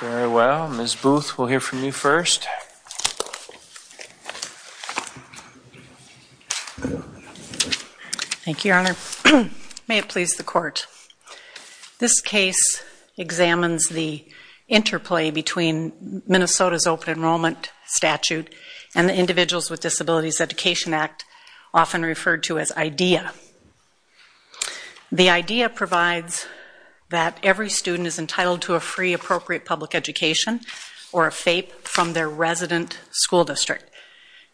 Very well, Ms. Booth, we'll hear from you first. Thank you, Your Honor. May it please the Court. This case examines the interplay between Minnesota's Open Enrollment Statute and the Individuals with Disabilities Education Act, often referred to as IDEA. The IDEA provides that every student is entitled to a free appropriate public education, or a FAPE, from their resident school district.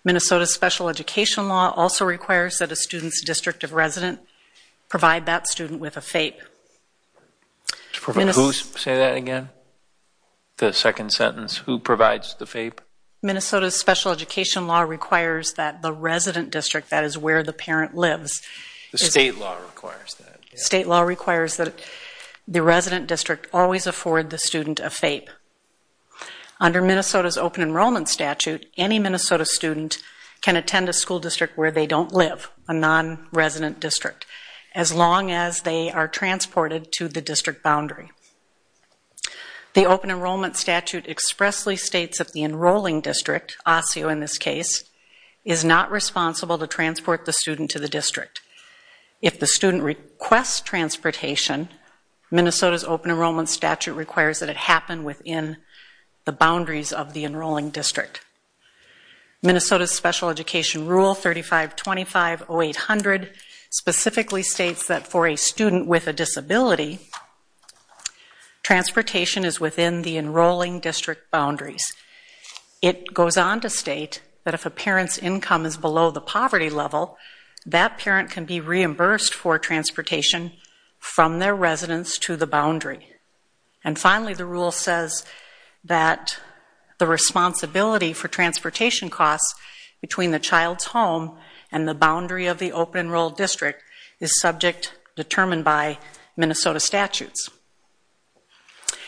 Minnesota's special education law also requires that a student's district of resident provide that student with a FAPE. Who say that again? The second sentence, who provides the FAPE? Minnesota's special education law requires that the resident district, that is where the parent lives. The state law requires that. State law requires that the resident district always afford the student a FAPE. Under Minnesota's Open Enrollment Statute, any Minnesota student can attend a school district where they don't live, a non-resident district, as long as they are transported to the district boundary. The Open Enrollment Statute expressly states that the enrolling district, Osseo in this case, is not responsible to transport the student to the district. If the student requests transportation, Minnesota's Open Enrollment Statute requires that it happen within the boundaries of the enrolling district. Minnesota's special education rule 3525-0800 specifically states that for a student with a disability, transportation is within the enrolling district boundaries. It goes on to state that if a parent's income is below the poverty level, that parent can be reimbursed for transportation from their residence to the boundary. And finally, the rule says that the responsibility for transportation costs between the child's home and the boundary of the open enrolled district is subject determined by Minnesota statutes.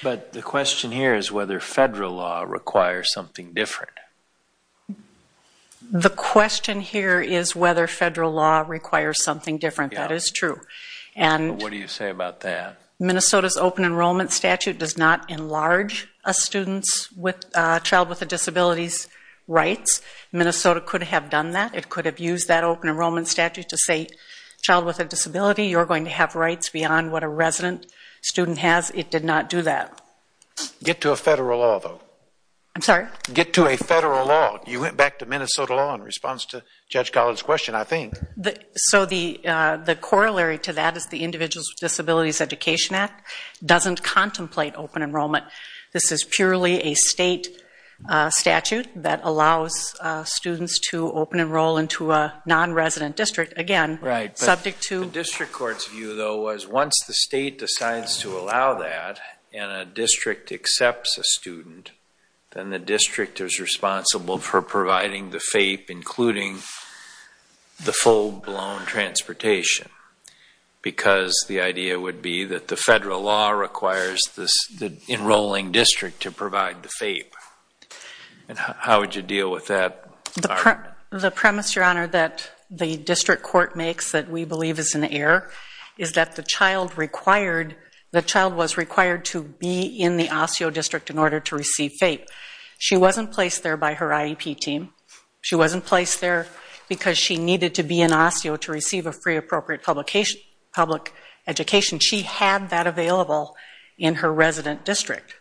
But the question here is whether federal law requires something different. The question here is whether federal law requires something different. That is true. What do you say about that? Minnesota's Open Enrollment Statute does not enlarge a student's child with a disability's rights. Minnesota could have done that. It could have used that Open Enrollment Statute to say, child with a disability, you're going to have rights beyond what a resident student has. It did not do that. Get to a federal law, though. I'm sorry? Get to a federal law. You went back to Minnesota law in response to Judge Collins' question, I think. So the corollary to that is the Individuals with Disabilities Education Act doesn't contemplate open enrollment. This is purely a state statute that allows students to open enroll into a non-resident district. The district court's view, though, was once the state decides to allow that and a district accepts a student, then the district is responsible for providing the FAPE, including the full-blown transportation. Because the idea would be that the federal law requires the enrolling district to provide the FAPE. How would you deal with that? The premise, Your Honor, that the district court makes that we believe is an error is that the child was required to be in the OSSEO district in order to receive FAPE. She wasn't placed there by her IEP team. She wasn't placed there because she needed to be in OSSEO to receive a free appropriate public education. She had that available in her resident district.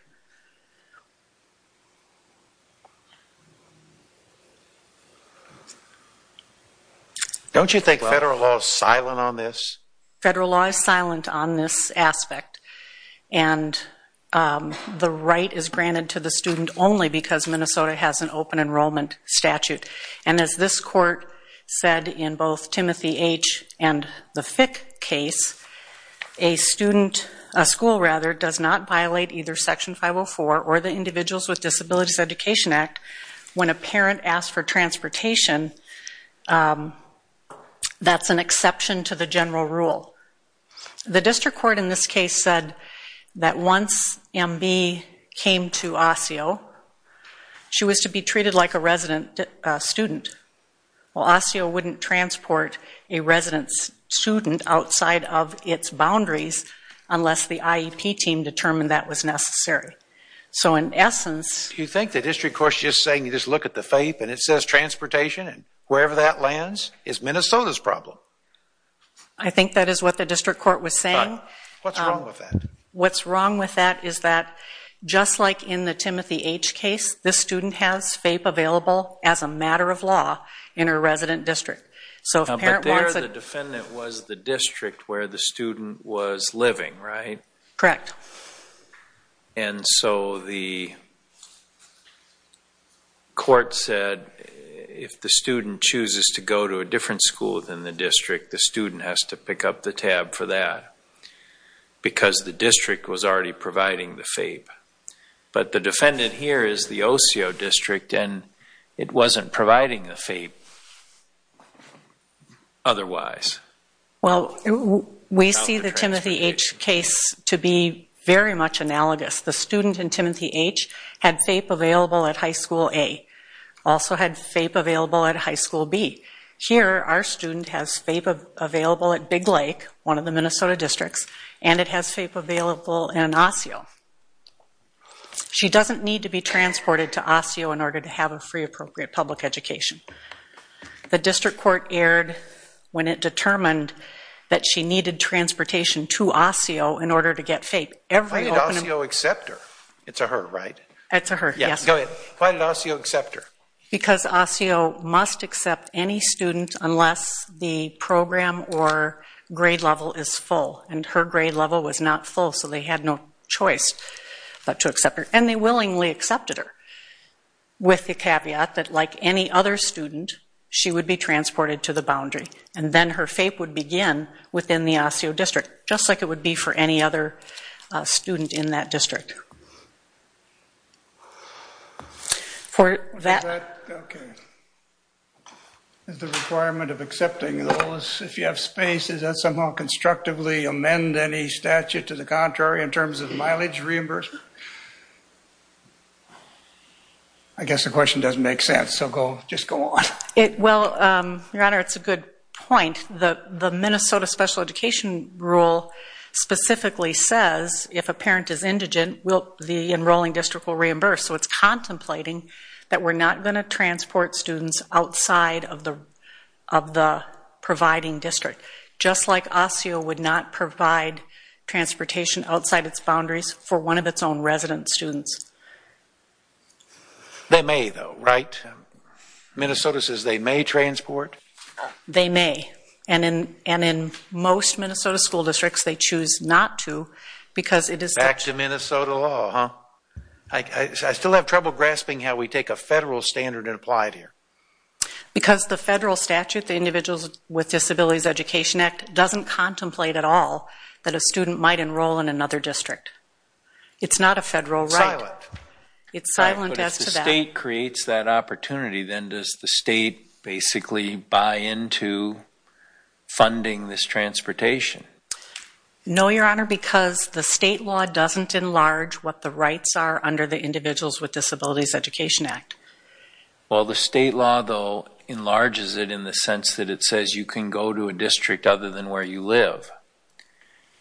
Don't you think federal law is silent on this? Federal law is silent on this aspect. And the right is granted to the student only because Minnesota has an open enrollment statute. And as this court said in both Timothy H. and the Fick case, a school does not violate either Section 504 or the Individuals with Disabilities Education Act when a parent asks for transportation. That's an exception to the general rule. The district court in this case said that once MB came to OSSEO, she was to be treated like a resident student. Well, OSSEO wouldn't transport a resident student outside of its boundaries unless the IEP team determined that was necessary. So in essence... You think the district court's just saying you just look at the FAPE and it says transportation and wherever that lands is Minnesota's problem? I think that is what the district court was saying. What's wrong with that? Just like in the Timothy H. case, this student has FAPE available as a matter of law in her resident district. But there the defendant was the district where the student was living, right? Correct. And so the court said if the student chooses to go to a different school than the district, the student has to pick up the tab for that because the district was already providing the FAPE. But the defendant here is the OSSEO district and it wasn't providing the FAPE otherwise. Well, we see the Timothy H. case to be very much analogous. The student in Timothy H. had FAPE available at High School A, also had FAPE available at High School B. Here, our student has FAPE available at Big Lake, one of the Minnesota districts, and it has FAPE available in OSSEO. She doesn't need to be transported to OSSEO in order to have a free appropriate public education. The district court erred when it determined that she needed transportation to OSSEO in order to get FAPE. Why did OSSEO accept her? It's a her, right? It's a her, yes. Go ahead. Why did OSSEO accept her? Because OSSEO must accept any student unless the program or grade level is full. And her grade level was not full, so they had no choice but to accept her. And they willingly accepted her with the caveat that, like any other student, she would be transported to the boundary. And then her FAPE would begin within the OSSEO district, just like it would be for any other student in that district. Is the requirement of accepting those, if you have space, does that somehow constructively amend any statute to the contrary in terms of mileage reimbursement? I guess the question doesn't make sense, so just go on. Well, Your Honor, it's a good point. The Minnesota special education rule specifically says if a parent is indigent, the enrolling district will reimburse. So it's contemplating that we're not going to transport students outside of the providing district, just like OSSEO would not provide transportation outside its boundaries for one of its own resident students. They may, though, right? Minnesota says they may transport? They may. And in most Minnesota school districts, they choose not to because it is such a Minnesota law, huh? I still have trouble grasping how we take a federal standard and apply it here. Because the federal statute, the Individuals with Disabilities Education Act, doesn't contemplate at all that a student might enroll in another district. It's not a federal right. Silent. It's silent as to that. But if the state creates that opportunity, then does the state basically buy into funding this transportation? No, Your Honor, because the state law doesn't enlarge what the rights are under the Individuals with Disabilities Education Act. Well, the state law, though, enlarges it in the sense that it says you can go to a district other than where you live.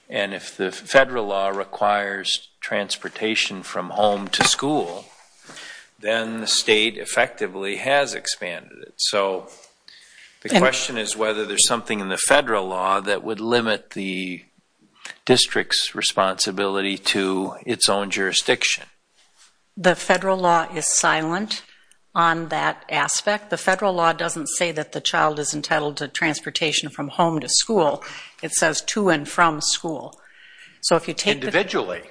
And if the federal law requires transportation from home to school, then the state effectively has expanded it. So the question is whether there's something in the federal law that would limit the district's responsibility to its own jurisdiction. The federal law is silent on that aspect. The federal law doesn't say that the child is entitled to transportation from home to school. It says to and from school. Individually.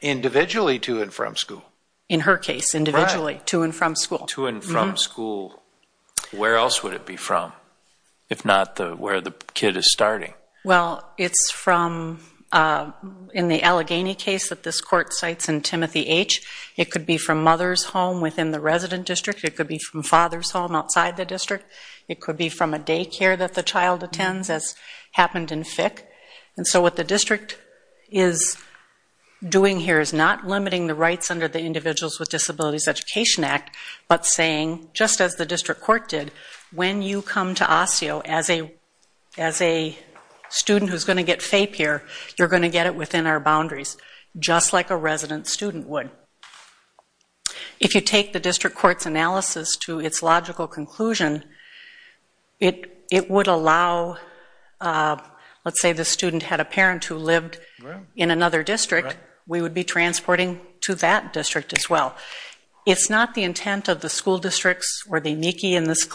Individually to and from school. In her case, individually to and from school. To and from school. Where else would it be from if not where the kid is starting? Well, it's from in the Allegheny case that this court cites in Timothy H. It could be from mother's home within the resident district. It could be from father's home outside the district. It could be from a daycare that the child attends, as happened in Fick. And so what the district is doing here is not limiting the rights under the Individuals with Disabilities Education Act, but saying, just as the district court did, when you come to Osseo, as a student who's going to get FAPE here, you're going to get it within our boundaries, just like a resident student would. If you take the district court's analysis to its logical conclusion, it would allow, let's say the student had a parent who lived in another district, we would be transporting to that district as well. It's not the intent of the school districts or the NICI in this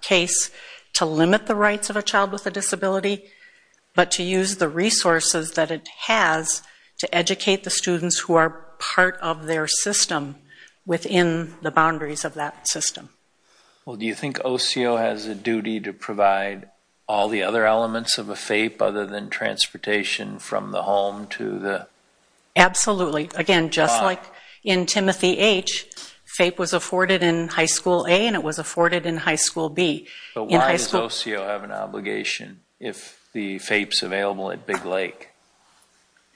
case to limit the rights of a child with a disability, but to use the resources that it has to educate the students who are part of their system within the boundaries of that system. Well, do you think Osseo has a duty to provide all the other elements of a FAPE other than transportation from the home to the car? Absolutely. Again, just like in Timothy H., FAPE was afforded in high school A and it was afforded in high school B. But why does Osseo have an obligation if the FAPE's available at Big Lake?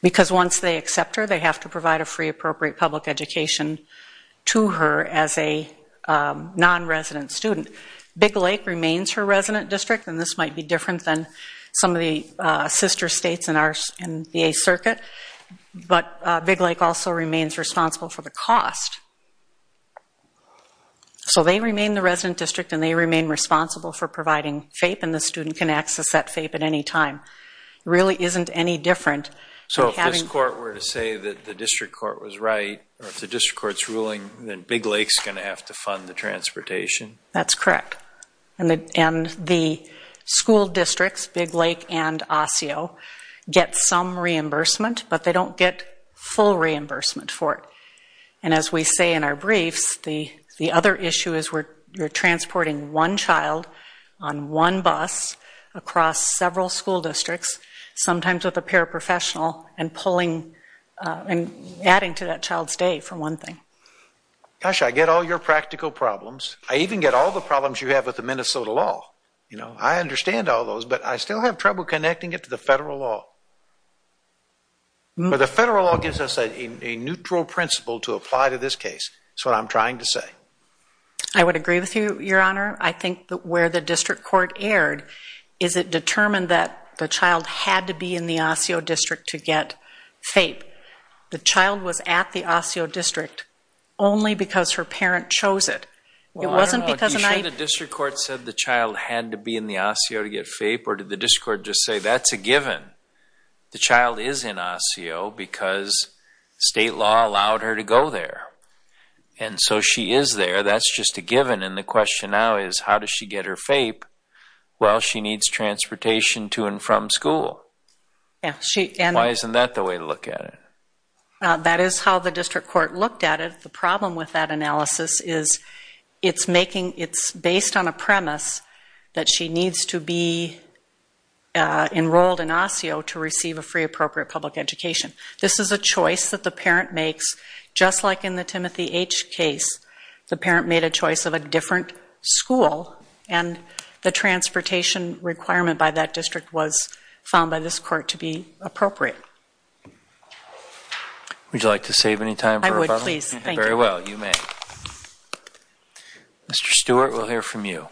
Because once they accept her, they have to provide a free appropriate public education to her as a non-resident student. Big Lake remains her resident district, and this might be different than some of the sister states in the A circuit. But Big Lake also remains responsible for the cost. So they remain the resident district and they remain responsible for providing FAPE, and the student can access that FAPE at any time. It really isn't any different. So if this court were to say that the district court was right, or if the district court's ruling that Big Lake's going to have to fund the transportation? That's correct. And the school districts, Big Lake and Osseo, get some reimbursement, but they don't get full reimbursement for it. And as we say in our briefs, the other issue is you're transporting one child on one bus across several school districts, sometimes with a paraprofessional, and adding to that child's day, for one thing. Gosh, I get all your practical problems. I even get all the problems you have with the Minnesota law. I understand all those, but I still have trouble connecting it to the federal law. But the federal law gives us a neutral principle to apply to this case. That's what I'm trying to say. I would agree with you, Your Honor. I think where the district court erred is it determined that the child had to be in the Osseo district to get FAPE. The child was at the Osseo district only because her parent chose it. Well, I don't know, are you sure the district court said the child had to be in the Osseo to get FAPE, or did the district court just say that's a given? The child is in Osseo because state law allowed her to go there. And so she is there. That's just a given. And the question now is how does she get her FAPE? Well, she needs transportation to and from school. Why isn't that the way to look at it? That is how the district court looked at it. The problem with that analysis is it's based on a premise that she needs to be enrolled in Osseo to receive a free appropriate public education. This is a choice that the parent makes. Just like in the Timothy H. case, the parent made a choice of a different school, and the transportation requirement by that district was found by this court to be appropriate. Would you like to save any time? I would, please. Thank you. Very well. You may. Mr. Stewart, we'll hear from you.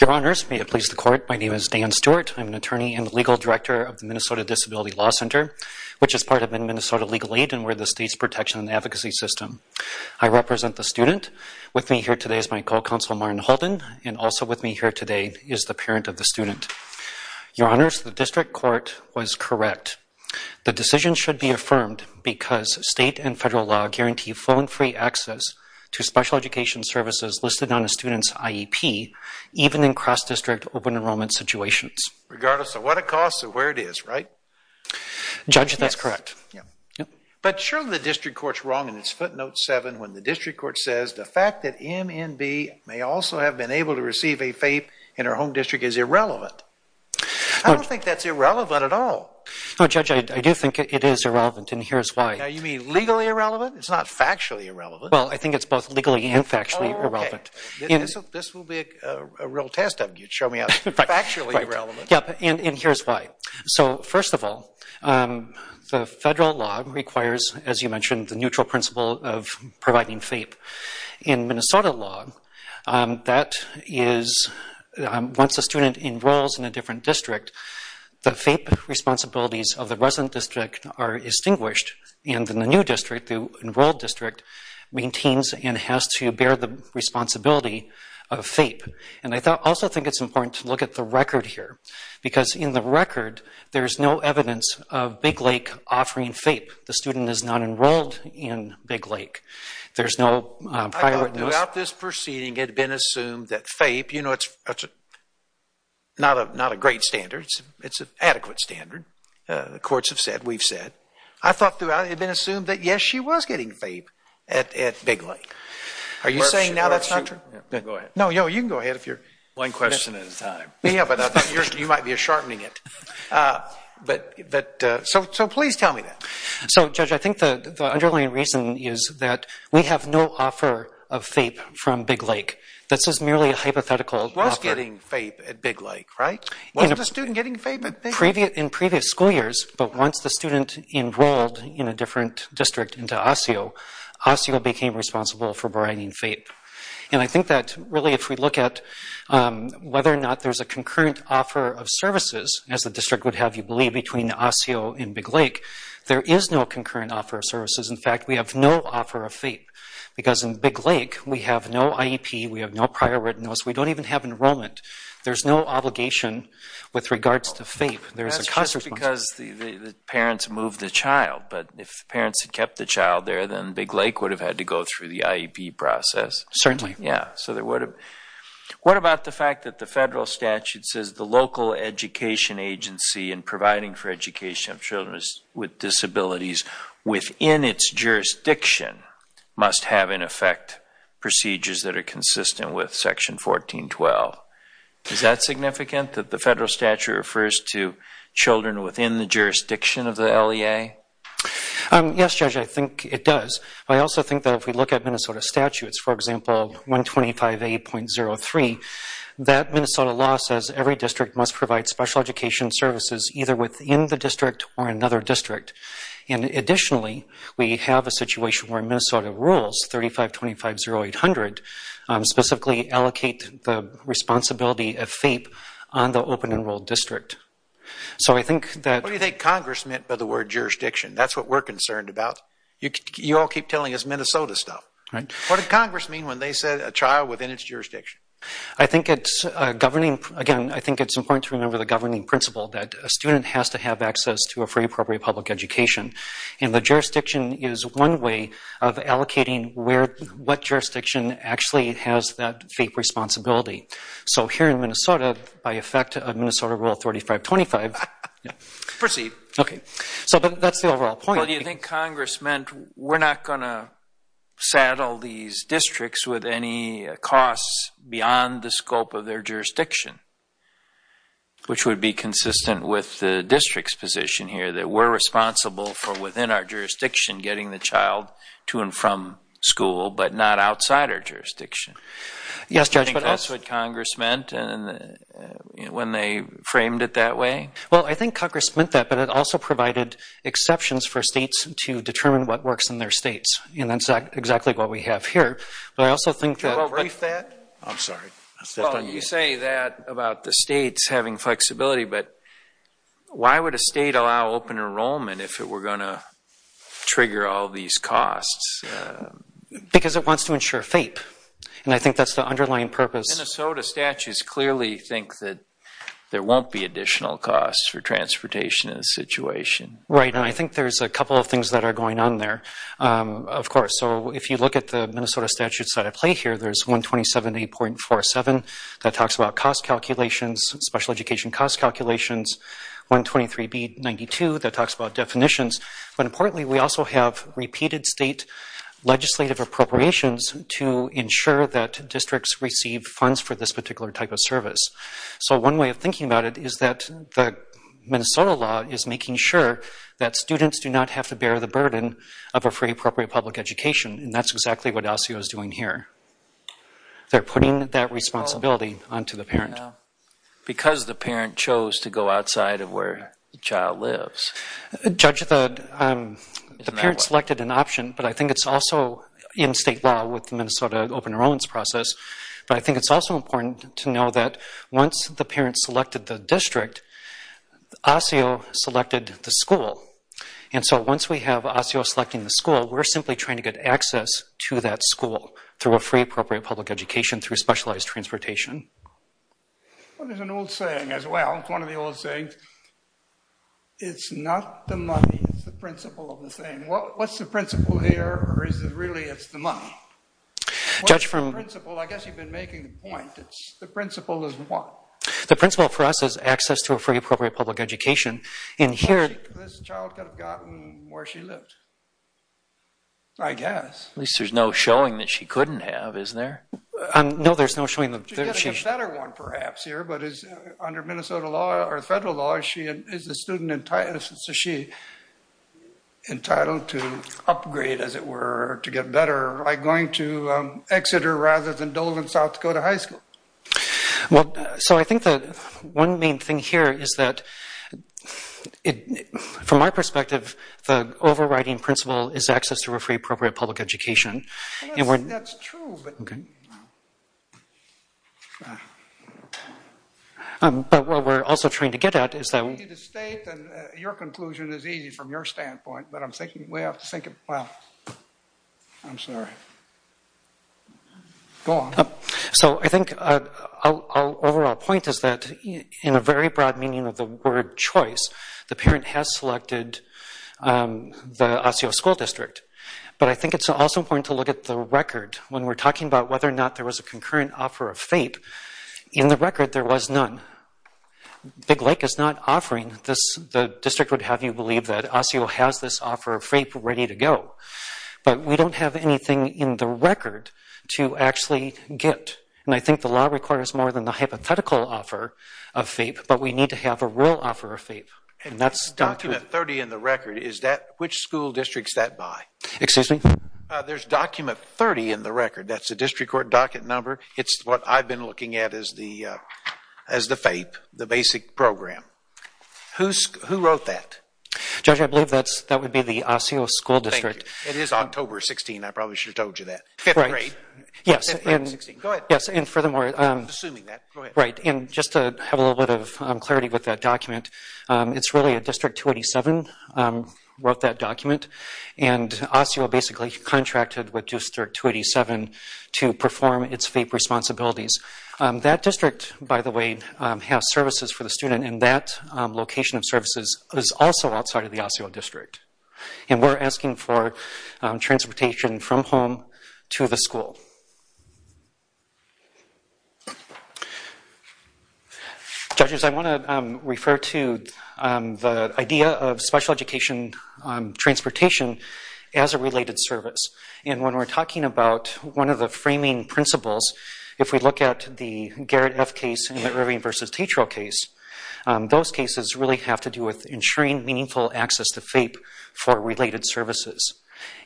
Your Honors, may it please the Court, my name is Dan Stewart. I'm an attorney and legal director of the Minnesota Disability Law Center, which is part of Minnesota Legal Aid, and we're the state's protection and advocacy system. I represent the student. With me here today is my co-counsel, Martin Holden, and also with me here today is the parent of the student. Your Honors, the district court was correct. The decision should be affirmed because state and federal law guarantee phone-free access to special education services listed on a student's IEP, even in cross-district open enrollment situations. Regardless of what it costs or where it is, right? Judge, that's correct. But surely the district court's wrong in its footnote 7 when the district court says the fact that MNB may also have been able to receive a FAPE in her home district is irrelevant. I don't think that's irrelevant at all. No, Judge, I do think it is irrelevant, and here's why. Now, you mean legally irrelevant? It's not factually irrelevant. Well, I think it's both legally and factually irrelevant. Oh, okay. This will be a real test of you. Show me how factually irrelevant. Yeah, and here's why. So, first of all, the federal law requires, as you mentioned, the neutral principle of providing FAPE. In Minnesota law, that is once a student enrolls in a different district, the FAPE responsibilities of the resident district are extinguished, and then the new district, the enrolled district, maintains and has to bear the responsibility of FAPE. And I also think it's important to look at the record here, because in the record there's no evidence of Big Lake offering FAPE. The student is not enrolled in Big Lake. There's no prior witness. I thought throughout this proceeding it had been assumed that FAPE, you know, it's not a great standard. It's an adequate standard. The courts have said, we've said. I thought throughout it had been assumed that, yes, she was getting FAPE at Big Lake. Are you saying now that's not true? Go ahead. No, you can go ahead. One question at a time. Yeah, but I thought you might be sharpening it. So please tell me that. So, Judge, I think the underlying reason is that we have no offer of FAPE from Big Lake. This is merely a hypothetical offer. She was getting FAPE at Big Lake, right? Wasn't the student getting FAPE at Big Lake? In previous school years, but once the student enrolled in a different district into Osseo, Osseo became responsible for providing FAPE. And I think that really if we look at whether or not there's a concurrent offer of services, as the district would have you believe, between Osseo and Big Lake, there is no concurrent offer of services. In fact, we have no offer of FAPE. Because in Big Lake, we have no IEP, we have no prior written notice, we don't even have enrollment. There's no obligation with regards to FAPE. That's just because the parents moved the child. But if the parents had kept the child there, then Big Lake would have had to go through the IEP process. Certainly. Yeah. What about the fact that the federal statute says the local education agency in providing for education of children with disabilities within its jurisdiction must have, in effect, procedures that are consistent with Section 1412? Is that significant, that the federal statute refers to children within the jurisdiction of the LEA? Yes, Judge, I think it does. I also think that if we look at Minnesota statutes, for example, 125A.03, that Minnesota law says every district must provide special education services either within the district or another district. And additionally, we have a situation where Minnesota rules, 3525.0800, specifically allocate the responsibility of FAPE on the open enrolled district. What do you think Congress meant by the word jurisdiction? That's what we're concerned about. You all keep telling us Minnesota stuff. What did Congress mean when they said a child within its jurisdiction? I think it's important to remember the governing principle that a student has to have access to a free, appropriate public education. And the jurisdiction is one way of allocating what jurisdiction actually has that FAPE responsibility. So here in Minnesota, by effect of Minnesota Rule 3525... Proceed. Okay. So that's the overall point. Well, do you think Congress meant we're not going to saddle these districts with any costs beyond the scope of their jurisdiction, which would be consistent with the district's position here, that we're responsible for within our jurisdiction getting the child to and from school, but not outside our jurisdiction? Yes, Judge. Do you think that's what Congress meant when they framed it that way? Well, I think Congress meant that, but it also provided exceptions for states to determine what works in their states. And that's exactly what we have here. But I also think that... Can you rephrase that? I'm sorry. You say that about the states having flexibility, but why would a state allow open enrollment if it were going to trigger all these costs? Because it wants to ensure FAPE. And I think that's the underlying purpose. Minnesota statutes clearly think that there won't be additional costs for transportation in this situation. Right. And I think there's a couple of things that are going on there, of course. So if you look at the Minnesota statutes that I play here, there's 127A.47 that talks about cost calculations, special education cost calculations, 123B.92 that talks about definitions. But importantly, we also have repeated state legislative appropriations to ensure that districts receive funds for this particular type of service. So one way of thinking about it is that the Minnesota law is making sure that students do not have to bear the burden of a free, appropriate public education, and that's exactly what LCO is doing here. They're putting that responsibility onto the parent. Because the parent chose to go outside of where the child lives. Judge, the parent selected an option, but I think it's also in state law with the Minnesota open enrollments process, but I think it's also important to know that once the parent selected the district, ASIO selected the school. And so once we have ASIO selecting the school, we're simply trying to get access to that school through a free, appropriate public education through specialized transportation. Well, there's an old saying as well, one of the old sayings, it's not the money, it's the principle of the thing. What's the principle here, or is it really it's the money? What's the principle? I guess you've been making the point. The principle is what? The principle for us is access to a free, appropriate public education. This child could have gotten where she lived, I guess. At least there's no showing that she couldn't have, isn't there? No, there's no showing. She could have gotten a better one perhaps here, but under Minnesota law or federal law, is the student entitled to upgrade, as it were, to get better by going to Exeter rather than Dolan South Dakota High School? Well, so I think the one main thing here is that from my perspective, the overriding principle is access to a free, appropriate public education. Well, that's true, but... But what we're also trying to get at is that... If you need to state, then your conclusion is easy from your standpoint, but I'm thinking we have to think about... I'm sorry. Go on. So I think our overall point is that in a very broad meaning of the word choice, the parent has selected the Osceola School District, but I think it's also important to look at the record. When we're talking about whether or not there was a concurrent offer of FAPE, in the record there was none. Big Lake is not offering this. The district would have you believe that Osceola has this offer of FAPE ready to go, but we don't have anything in the record to actually get, and I think the law requires more than the hypothetical offer of FAPE, but we need to have a real offer of FAPE, and that's... There's document 30 in the record. Which school district is that by? Excuse me? There's document 30 in the record. That's a district court docket number. It's what I've been looking at as the FAPE, the basic program. Who wrote that? Judge, I believe that would be the Osceola School District. Thank you. It is October 16th. I probably should have told you that. Fifth grade. Yes. Go ahead. Yes, and furthermore... I'm assuming that. Go ahead. Right, and just to have a little bit of clarity with that document, it's really a District 287 wrote that document, and Osceola basically contracted with District 287 to perform its FAPE responsibilities. That district, by the way, has services for the student, and that location of services is also outside of the Osceola District, and we're asking for transportation from home to the school. Judges, I want to refer to the idea of special education transportation as a related service. And when we're talking about one of the framing principles, if we look at the Garrett F case and the Rivian v. Tatro case, those cases really have to do with ensuring meaningful access to FAPE for related services.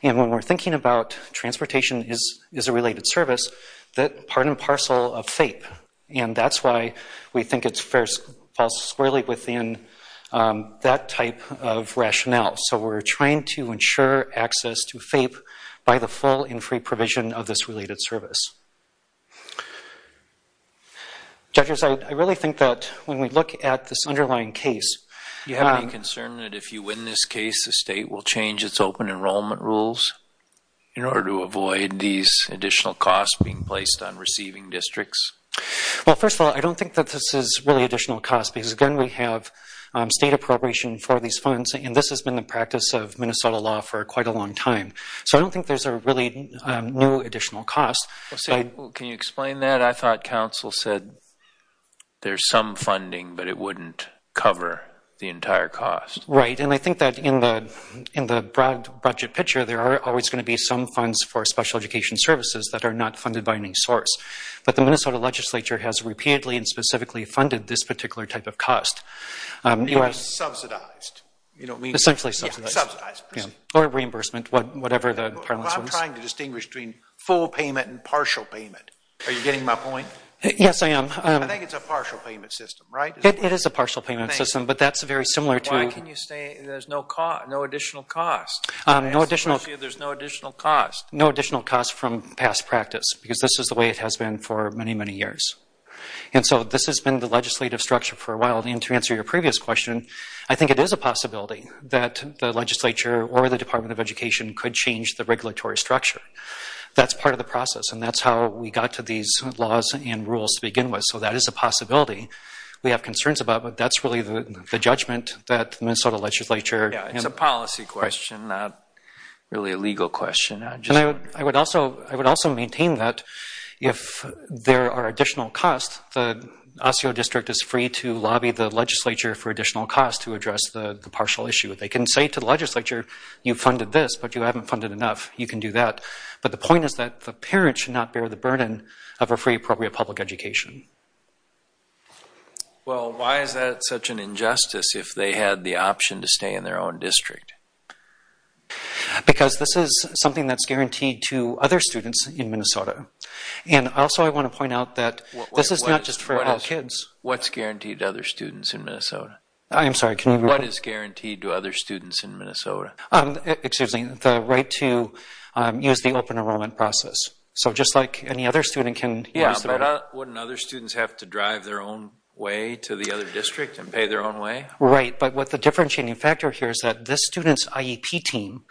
And when we're thinking about transportation as a related service, that's part and parcel of FAPE, and that's why we think it falls squarely within that type of rationale. So we're trying to ensure access to FAPE by the full and free provision of this related service. Judges, I really think that when we look at this underlying case... You have any concern that if you win this case, the state will change its open enrollment rules in order to avoid these additional costs being placed on receiving districts? Well, first of all, I don't think that this is really additional cost, because, again, we have state appropriation for these funds, and this has been the practice of Minnesota law for quite a long time. So I don't think there's a really new additional cost. Can you explain that? I thought counsel said there's some funding, but it wouldn't cover the entire cost. Right, and I think that in the broad budget picture, there are always going to be some funds for special education services that are not funded by any source. But the Minnesota legislature has repeatedly and specifically funded this particular type of cost. You mean subsidized? Essentially subsidized. Or reimbursement, whatever the parlance was. I'm trying to distinguish between full payment and partial payment. Are you getting my point? Yes, I am. I think it's a partial payment system, right? It is a partial payment system, but that's very similar to... How can you say there's no additional cost? No additional... There's no additional cost. No additional cost from past practice, because this is the way it has been for many, many years. And so this has been the legislative structure for a while, and to answer your previous question, I think it is a possibility that the legislature or the Department of Education could change the regulatory structure. That's part of the process, and that's how we got to these laws and rules to begin with. So that is a possibility we have concerns about, but that's really the judgment that Minnesota legislature... Yeah, it's a policy question, not really a legal question. I would also maintain that if there are additional costs, the Osceola District is free to lobby the legislature for additional costs to address the partial issue. They can say to the legislature, you funded this, but you haven't funded enough. You can do that. But the point is that the parent should not bear the burden of a free, appropriate public education. Well, why is that such an injustice if they had the option to stay in their own district? Because this is something that's guaranteed to other students in Minnesota. And also I want to point out that this is not just for all kids. What's guaranteed to other students in Minnesota? I'm sorry, can you repeat? What is guaranteed to other students in Minnesota? Excuse me, the right to use the open enrollment process. So just like any other student can... Yeah, but wouldn't other students have to drive their own way to the other district and pay their own way? Right. But what the differentiating factor here is that this student's IEP team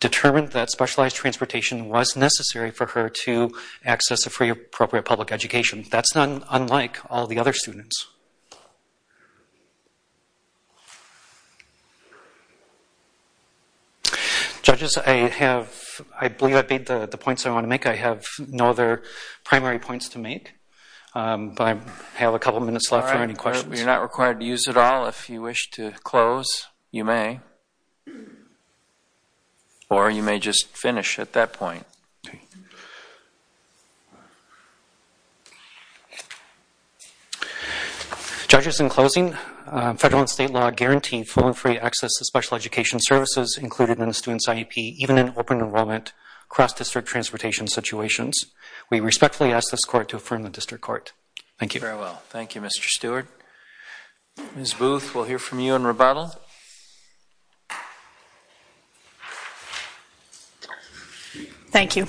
determined that specialized transportation was necessary for her to access a free, appropriate public education. That's not unlike all the other students. Judges, I believe I've made the points I want to make. I have no other primary points to make, but I have a couple of minutes left for any questions. All right, you're not required to use it all. If you wish to close, you may. Or you may just finish at that point. Judges, in closing, federal and state law guarantee full and free access to special education services included in a student's IEP, even in open enrollment, cross-district transportation situations. We respectfully ask this court to affirm the district court. Thank you. Very well. Thank you, Mr. Stewart. Ms. Booth, we'll hear from you in rebuttal. Thank you.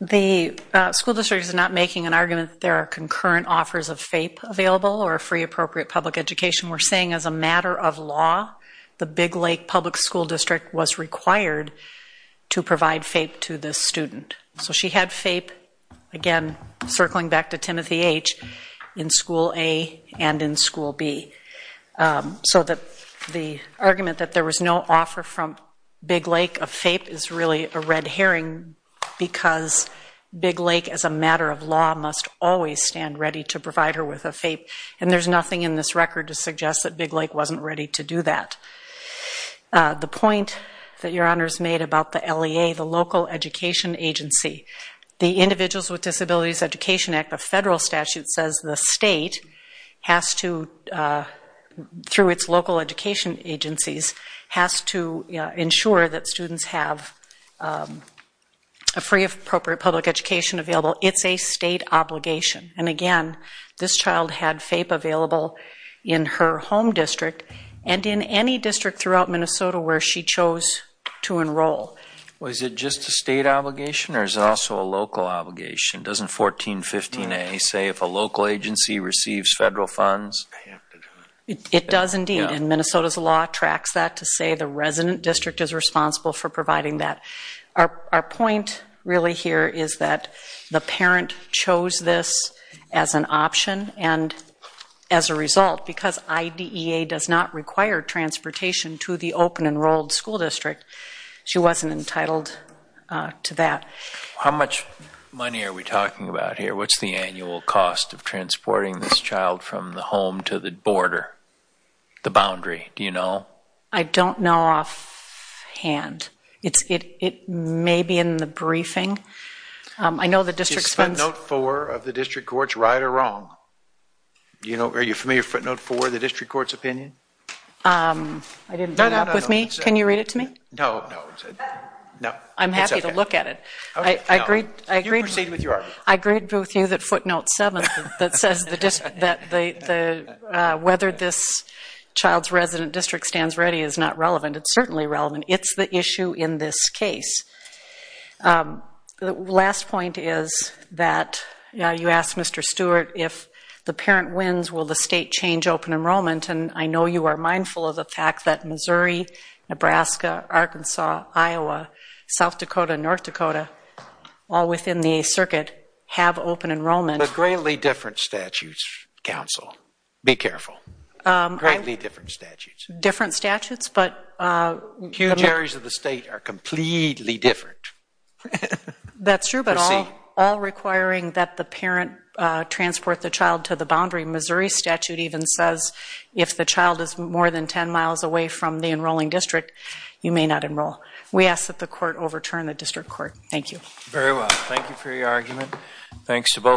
The school district is not making an argument that there are concurrent offers of FAPE available or a free, appropriate public education. We're saying as a matter of law, the Big Lake Public School District was required to provide FAPE to this student. So she had FAPE, again, circling back to Timothy H., in school A and in school B. So the argument that there was no offer from Big Lake of FAPE is really a red herring because Big Lake, as a matter of law, must always stand ready to provide her with a FAPE. And there's nothing in this record to suggest that Big Lake wasn't ready to do that. The point that Your Honors made about the LEA, the local education agency, the Individuals with Disabilities Education Act, the federal statute says the state has to, through its local education agencies, has to ensure that students have a free, appropriate public education available. It's a state obligation. And again, this child had FAPE available in her home district and in any district throughout Minnesota where she chose to enroll. Was it just a state obligation or is it also a local obligation? Doesn't 1415A say if a local agency receives federal funds? It does indeed. And Minnesota's law tracks that to say the resident district is responsible for providing that. Our point really here is that the parent chose this as an option and as a result, because IDEA does not require transportation to the open enrolled school district, she wasn't entitled to that. How much money are we talking about here? What's the annual cost of transporting this child from the home to the border, the boundary? Do you know? I don't know offhand. It may be in the briefing. Is footnote four of the district court's right or wrong? Are you familiar with footnote four, the district court's opinion? I didn't bring it up with me. Can you read it to me? I'm happy to look at it. You can proceed with your argument. I agree with you that footnote seven that says whether this child's resident district stands ready is not relevant. It's certainly relevant. It's the issue in this case. The last point is that you asked Mr. Stewart if the parent wins, will the state change open enrollment? I know you are mindful of the fact that Missouri, Nebraska, Arkansas, Iowa, South Dakota, North Dakota, all within the circuit have open enrollment. But greatly different statutes, counsel. Be careful. Greatly different statutes. Different statutes, but... Huge areas of the state are completely different. That's true, but all requiring that the parent transport the child to the boundary. Missouri statute even says if the child is more than 10 miles away from the enrolling district, you may not enroll. We ask that the court overturn the district court. Thank you. Very well. Thank you for your argument. Thanks to both.